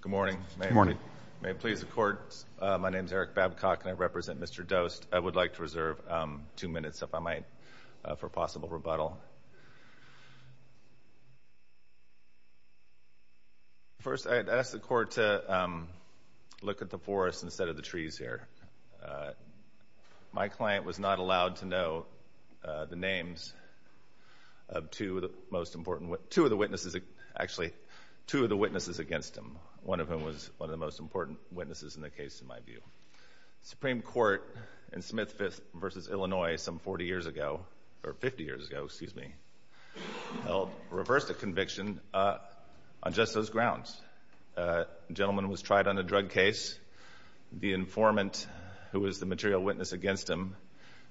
Good morning. May it please the Court, my name is Eric Babcock and I represent Mr. Dost. I would like to reserve two minutes, if I might, for possible rebuttal. First, I'd ask the Court to look at the forest instead of the trees here. My client was not allowed to know the names of two of the witnesses against him, one of whom was one of the most important witnesses in the case, in my view. The Supreme Court in Smith v. Illinois some 50 years ago reversed a conviction on just those grounds. The gentleman was tried on a drug case. The informant, who was the material witness against him,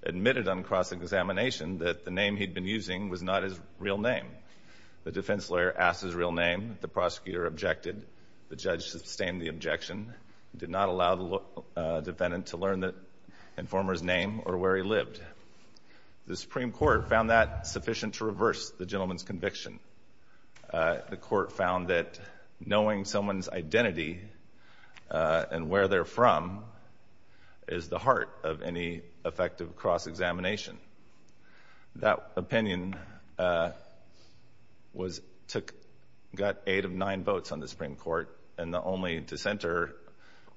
admitted on cross-examination that the name he'd been using was not his real name. The defense lawyer asked his real name, the prosecutor objected, the judge sustained the objection, did not allow the defendant to learn the informant's name or where he lived. The Supreme Court found that sufficient to reverse the gentleman's conviction. The Court found that knowing someone's identity and where they're from is the heart of any effective cross-examination. That opinion was took, got eight of nine votes on the Supreme Court, and the only dissenter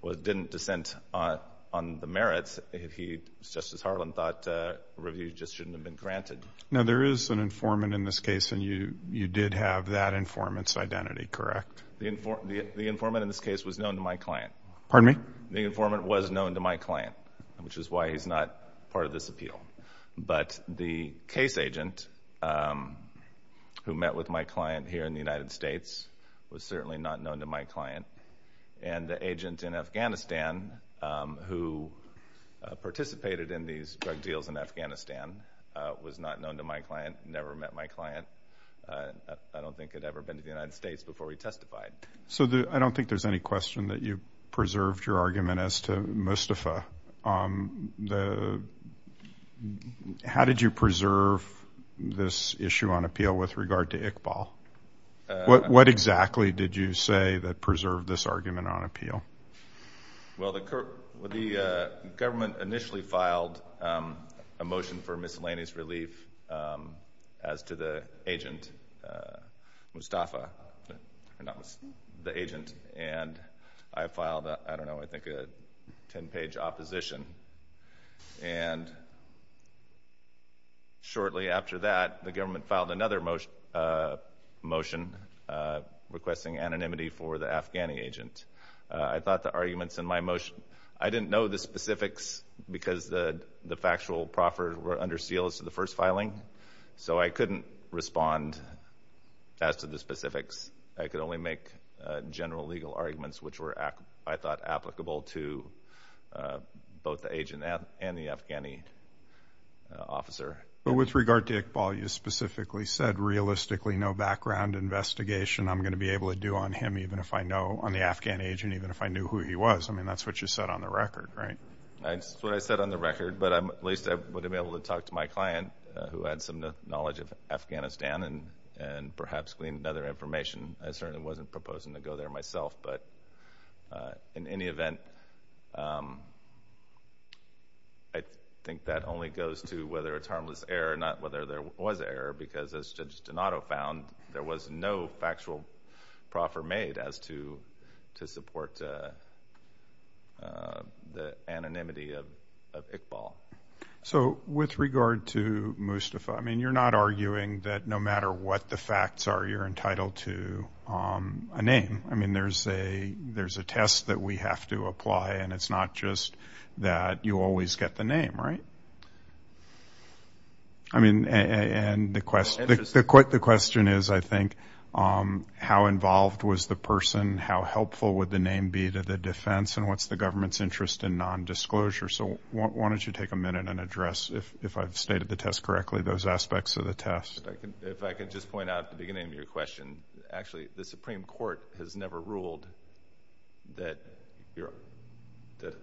didn't dissent on the merits. Justice Harlan thought reviews just shouldn't have been granted. Now there is an informant in this case, and you did have that informant's identity, correct? The informant in this case was known to my client. Pardon me? The informant was known to my client, which is why he's not part of this appeal. But the case agent, who met with my client here in the United States, was certainly not known to my client. And the agent in Afghanistan, who participated in these drug deals in Afghanistan, was not known to my client, never met my client, I don't think had ever been to the United States before we testified. So I don't think there's any question that you preserved your argument as to Mustafa. How did you preserve this issue on appeal with regard to Iqbal? What exactly did you say that preserved this argument on appeal? Well, the government initially filed a motion for miscellaneous relief as to the agent, Mustafa, or not Mustafa, the agent. And I filed, I don't know, I think a 10-page opposition. And shortly after that, the government filed another motion requesting anonymity for the agent. I thought the arguments in my motion, I didn't know the specifics because the factual proffers were under seal as to the first filing. So I couldn't respond as to the specifics. I could only make general legal arguments, which were, I thought, applicable to both the agent and the Afghani officer. But with regard to Iqbal, you specifically said, realistically, no background investigation I'm going to be able to do on him, even if I know, on the Afghan agent, even if I knew who he was. I mean, that's what you said on the record, right? That's what I said on the record. But at least I would have been able to talk to my client who had some knowledge of Afghanistan and perhaps gleaned other information. I certainly wasn't proposing to go there myself. But in any event, I think that only goes to whether it's harmless error, not whether there was error. Because as Judge Donato found, there was no factual proffer made as to support the anonymity of Iqbal. So with regard to Mustafa, I mean, you're not arguing that no matter what the facts are, you're entitled to a name. I mean, there's a test that we have to apply, and it's not just that you always get the name, right? I mean, and the question is, I think, how involved was the person? How helpful would the name be to the defense? And what's the government's interest in nondisclosure? So why don't you take a minute and address, if I've stated the test correctly, those aspects of the test. If I could just point out at the beginning of your question, actually, the Supreme Court has never ruled that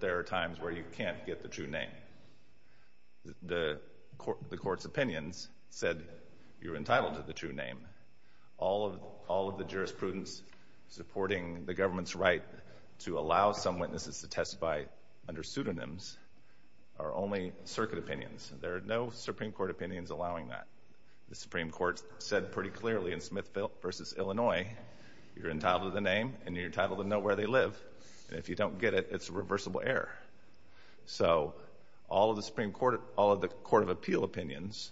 there are times where you can't get the true name. The Court's opinions said you're entitled to the true name. All of the jurisprudence supporting the government's right to allow some witnesses to testify under pseudonyms are only circuit opinions. There are no Supreme Court opinions allowing that. The Supreme Court said pretty clearly in Smith v. Illinois, you're entitled to the name, and you're entitled to know where they live. If you don't get it, it's a reversible error. So all of the Supreme Court, all of the Court of Appeal opinions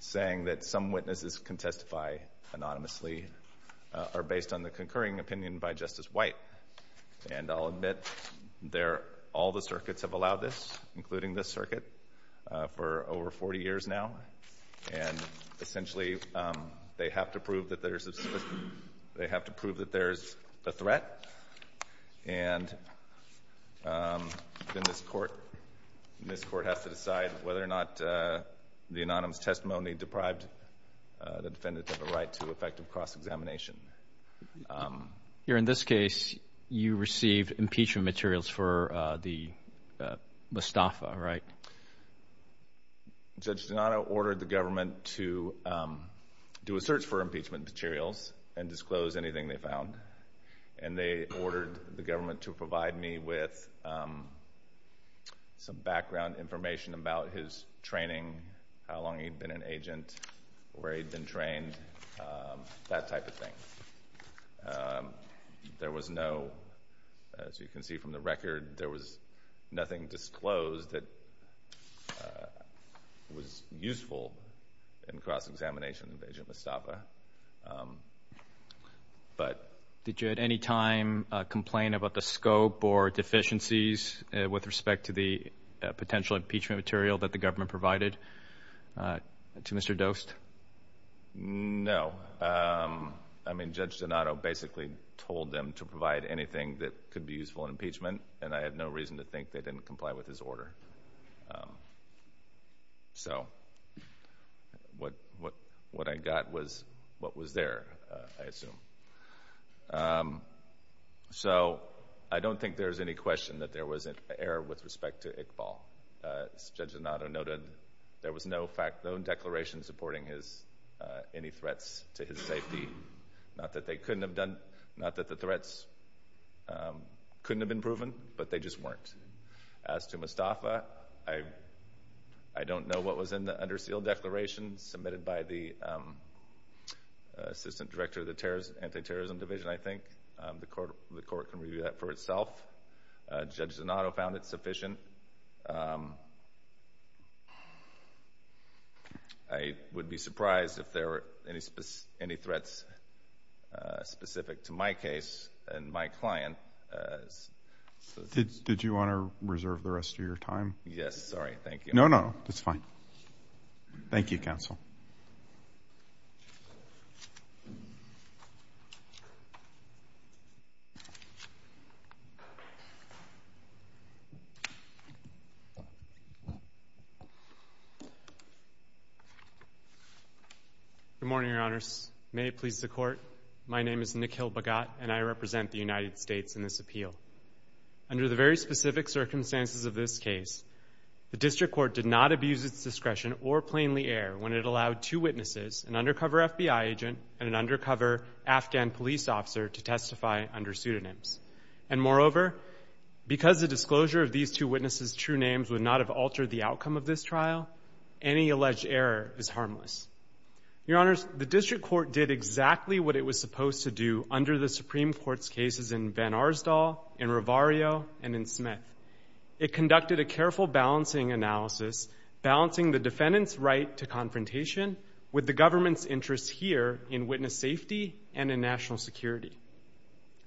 saying that some witnesses can testify anonymously are based on the concurring opinion by Justice White. And I'll admit, all the circuits have allowed this, including this circuit, for over 40 years now. And essentially, they have to prove that there's a threat, and then this Court has to decide whether or not the anonymous testimony deprived the defendant of a right to effective cross-examination. Here in this case, you received impeachment materials for the Mustafa, right? Judge Donato ordered the government to do a search for impeachment materials and disclose anything they found. And they ordered the government to provide me with some background information about his training, how long he'd been an agent, where he'd been trained, that type of thing. There was no, as you can see from the record, there was nothing disclosed that was useful in cross-examination of Agent Mustafa. Did you at any time complain about the scope or deficiencies with respect to the potential impeachment material that the government provided to Mr. Dost? No. I mean, Judge Donato basically told them to provide anything that could be useful in cross-examination. So, what I got was what was there, I assume. So, I don't think there's any question that there was an error with respect to Iqbal. As Judge Donato noted, there was no declaration supporting any threats to his safety. Not that they couldn't have been done, not that the threats couldn't have been proven, but they just weren't. As to Mustafa, I don't know what was in the undersealed declaration submitted by the Assistant Director of the Anti-Terrorism Division, I think. The court can review that for itself. Judge Donato found it sufficient. I would be surprised if there were any threats specific to my case and my client. Did you want to reserve the rest of your time? Yes. Sorry. Thank you. No, no. That's fine. Thank you, counsel. Good morning, Your Honors. May it please the Court, my name is Nick Hill-Bagot, and I represent the United States in this appeal. Under the very specific circumstances of this case, the District Court did not abuse its discretion or plainly err when it allowed two witnesses, an undercover FBI agent and an undercover Afghan police officer, to testify under pseudonyms. And moreover, because the disclosure of these two witnesses' true names would not have altered the outcome of this trial, any alleged error is harmless. Your Honors, the District Court did exactly what it was supposed to do under the Supreme Court's cases in Van Arsdal, in Ravario, and in Smith. It conducted a careful balancing analysis, balancing the defendant's right to confrontation with the government's interest here in witness safety and in national security.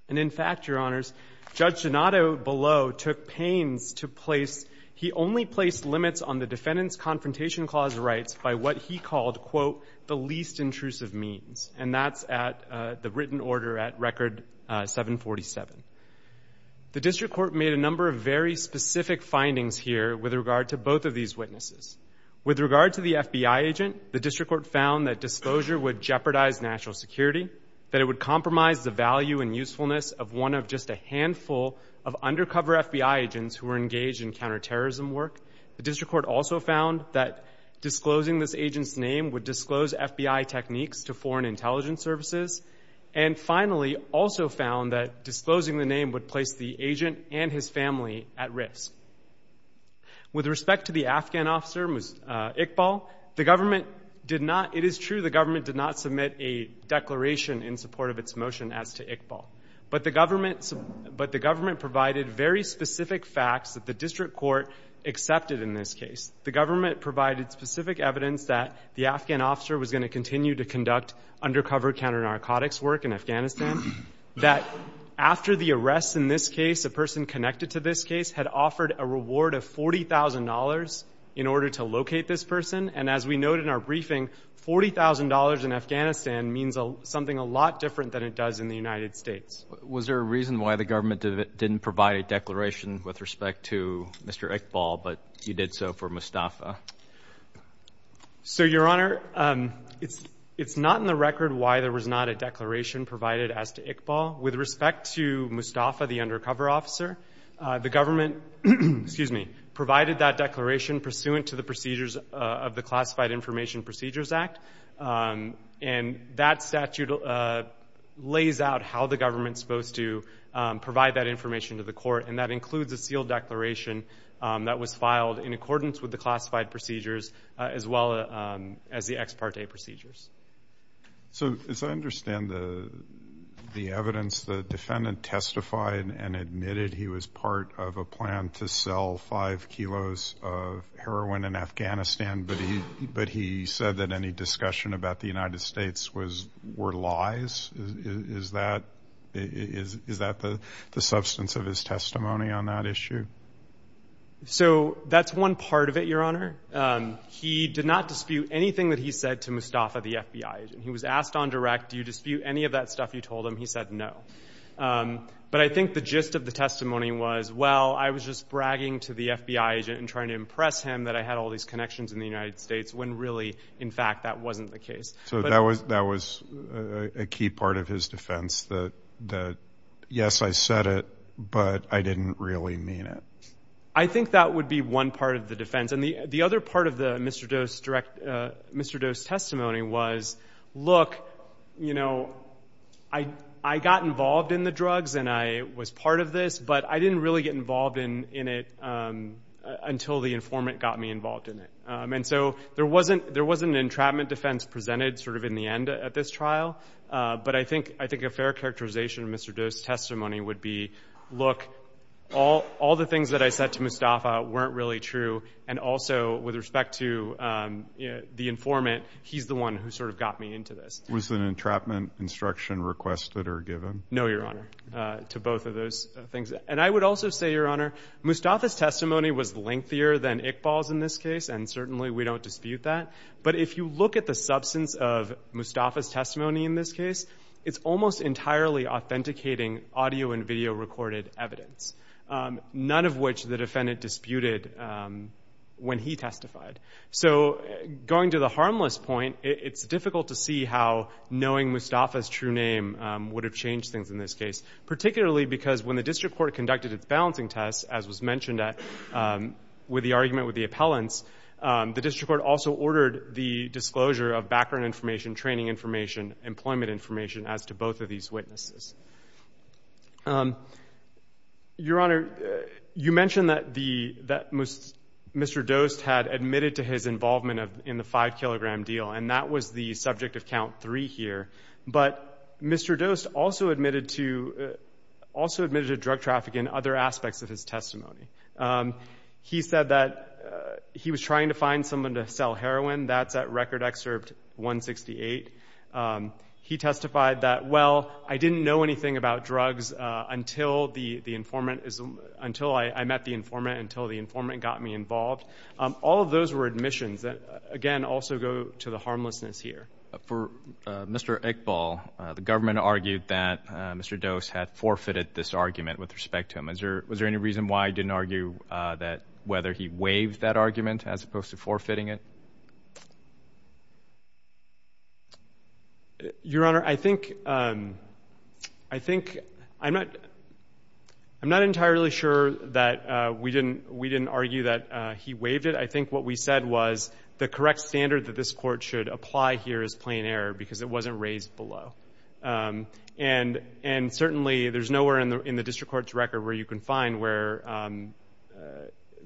And in fact, Your Honors, Judge Donato below took pains to place, he only placed limits on the defendant's confrontation clause rights by what he called, quote, the least intrusive means. And that's at the written order at Record 747. The District Court made a number of very specific findings here with regard to both of these witnesses. With regard to the FBI agent, the District Court found that disclosure would jeopardize national security, that it would compromise the value and usefulness of one of just a handful of undercover FBI agents who were engaged in counterterrorism work. The District Court also found that disclosing this agent's name would disclose FBI techniques to foreign intelligence services. And finally, also found that disclosing the name would place the agent and his family at risk. With respect to the Afghan officer, Iqbal, the government did not, it is true the government did not submit a declaration in support of its motion as to Iqbal. But the government provided very specific facts that the District Court accepted in this case. The government provided specific evidence that the Afghan officer was going to continue to conduct undercover counter-narcotics work in Afghanistan. That after the arrest in this case, a person connected to this case had offered a reward of $40,000 in order to locate this person. And as we note in our briefing, $40,000 in Afghanistan means something a lot different than it does in the United States. Was there a reason why the government didn't provide a declaration with respect to Mr. Iqbal, but you did so for Mustafa? So, Your Honor, it's not in the record why there was not a declaration provided as to Iqbal. With respect to Mustafa, the undercover officer, the government provided that declaration pursuant to the procedures of the Classified Information Procedures Act. And that statute lays out how the government's supposed to provide that information to the court. And that includes a sealed declaration that was filed in accordance with the classified procedures as well as the ex parte procedures. So, as I understand the evidence, the defendant testified and admitted he was part of a plan to heroin in Afghanistan, but he said that any discussion about the United States were lies. Is that the substance of his testimony on that issue? So, that's one part of it, Your Honor. He did not dispute anything that he said to Mustafa, the FBI agent. He was asked on direct, do you dispute any of that stuff you told him? He said no. But I think the gist of the testimony was, well, I was just bragging to the FBI agent and to impress him that I had all these connections in the United States when really, in fact, that wasn't the case. So, that was a key part of his defense, that yes, I said it, but I didn't really mean it. I think that would be one part of the defense. And the other part of Mr. Doe's testimony was, look, you know, I got involved in the drugs and I was part of this, but I didn't really get involved in it until the informant got me involved in it. And so, there wasn't an entrapment defense presented sort of in the end at this trial, but I think a fair characterization of Mr. Doe's testimony would be, look, all the things that I said to Mustafa weren't really true, and also, with respect to the informant, he's the one who sort of got me into this. Was an entrapment instruction requested or given? No, Your Honor, to both of those things. And I would also say, Your Honor, Mustafa's testimony was lengthier than Iqbal's in this case, and certainly we don't dispute that, but if you look at the substance of Mustafa's testimony in this case, it's almost entirely authenticating audio and video recorded evidence, none of which the defendant disputed when he testified. So, going to the harmless point, it's difficult to see how knowing Mustafa's true name would have changed things in this case, particularly because when the district court conducted its balancing tests, as was mentioned with the argument with the appellants, the district court also ordered the disclosure of background information, training information, employment information, as to both of these witnesses. Your Honor, you mentioned that Mr. Dost had admitted to his involvement in the 5-kilogram deal, and that was the subject of count three here. But Mr. Dost also admitted to drug traffic in other aspects of his testimony. He said that he was trying to find someone to sell heroin, that's at Record Excerpt 168. He testified that, well, I didn't know anything about drugs until I met the informant, until the informant got me involved. All of those were admissions that, again, also go to the harmlessness here. But for Mr. Iqbal, the government argued that Mr. Dost had forfeited this argument with respect to him. Is there — was there any reason why he didn't argue that — whether he waived that argument as opposed to forfeiting it? Your Honor, I think — I think — I'm not — I'm not entirely sure that we didn't — we didn't argue that he waived it. I think what we said was the correct standard that this Court should apply here is plain error because it wasn't raised below. And certainly, there's nowhere in the district court's record where you can find where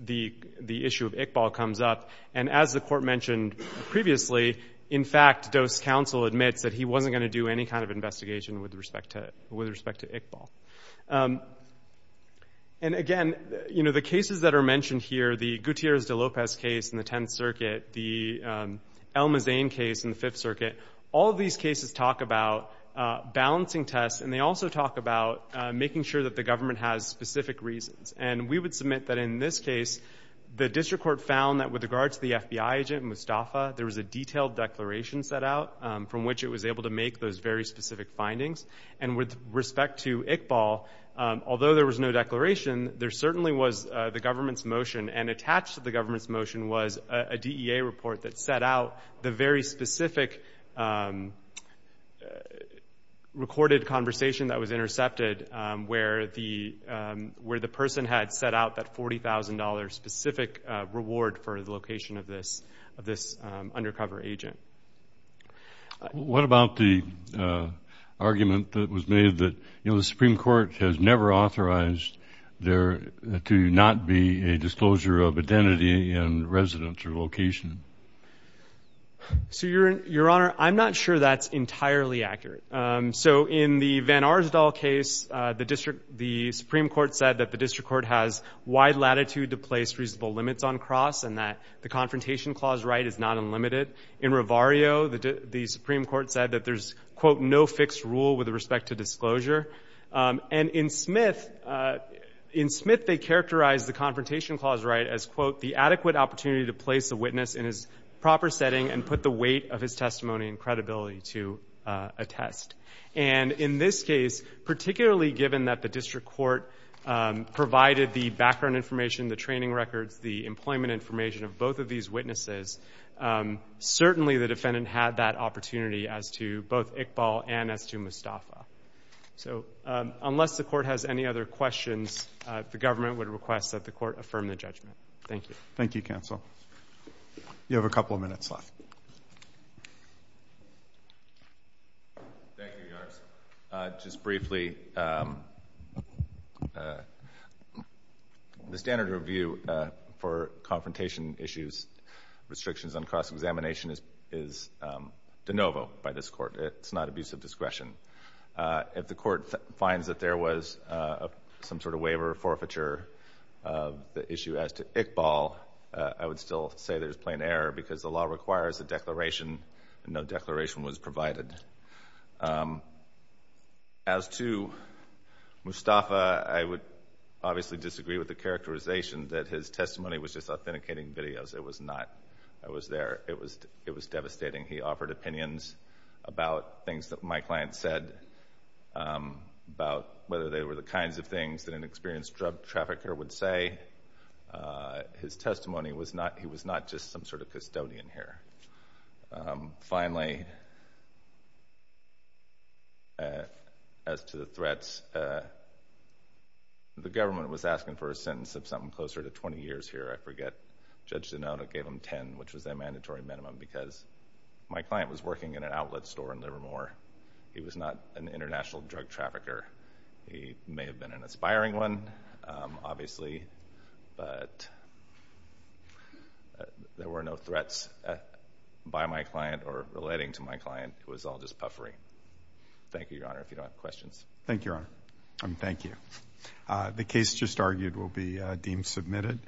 the issue of Iqbal comes up. And as the Court mentioned previously, in fact, Dost's counsel admits that he wasn't going to do any kind of investigation with respect to — with respect to Iqbal. And, again, you know, the cases that are mentioned here, the Gutierrez de Lopez case in the 10th Circuit, the El Mazen case in the Fifth Circuit, all of these cases talk about balancing tests, and they also talk about making sure that the government has specific reasons. And we would submit that in this case, the district court found that with regard to the FBI agent Mustafa, there was a detailed declaration set out from which it was able to make those very specific findings. And with respect to Iqbal, although there was no declaration, there certainly was the government's motion. And attached to the government's motion was a DEA report that set out the very specific recorded conversation that was intercepted where the — where the person had set out that $40,000 specific reward for the location of this undercover agent. JUSTICE BREYER. What about the argument that was made that, you know, the Supreme Court has never authorized there to not be a disclosure of identity and residence or location? MR. GARRETT. So, Your Honor, I'm not sure that's entirely accurate. So in the Van Arsdal case, the district — the Supreme Court said that the district court has wide latitude to place reasonable limits on confrontation clause right is not unlimited. In Revario, the Supreme Court said that there's, quote, no fixed rule with respect to disclosure. And in Smith — in Smith, they characterized the confrontation clause right as, quote, the adequate opportunity to place a witness in his proper setting and put the weight of his testimony and credibility to attest. And in this case, particularly given that the district court provided the background information, the training records, the employment information of both of these witnesses, certainly the defendant had that opportunity as to both Iqbal and as to Mustafa. So unless the Court has any other questions, the government would request that the Court affirm the judgment. CHIEF JUSTICE ROBERTS. Thank you, counsel. You have a couple of minutes left. MR. GARRETT. Thank you, Your Honor. Just briefly, the standard review for confrontation issues, restrictions on cross-examination is de novo by this Court. It's not abuse of discretion. If the Court finds that there was some sort of waiver or forfeiture of the issue as to Iqbal, I would still say there's plain error because the law requires a declaration, and no declaration was provided. As to Mustafa, I would obviously disagree with the characterization that his testimony was just authenticating videos. It was not. I was there. It was devastating. He offered opinions about things that my client said, about whether they were the kinds of things that an experienced drug trafficker would say. His testimony was not just some sort of custodian here. Finally, as to the threats, the government was asking for a sentence of something closer to 20 years here. I forget. Judge Zanotta gave him 10, which was their mandatory minimum because my client was working in an outlet store in Livermore. He was not an international drug trafficker. He may have been an aspiring one, obviously, but there were no threats by my client or relating to my client. It was all just puffery. Thank you, Your Honor, if you don't have questions. Thank you, Your Honor. Thank you. The case just argued will be deemed submitted.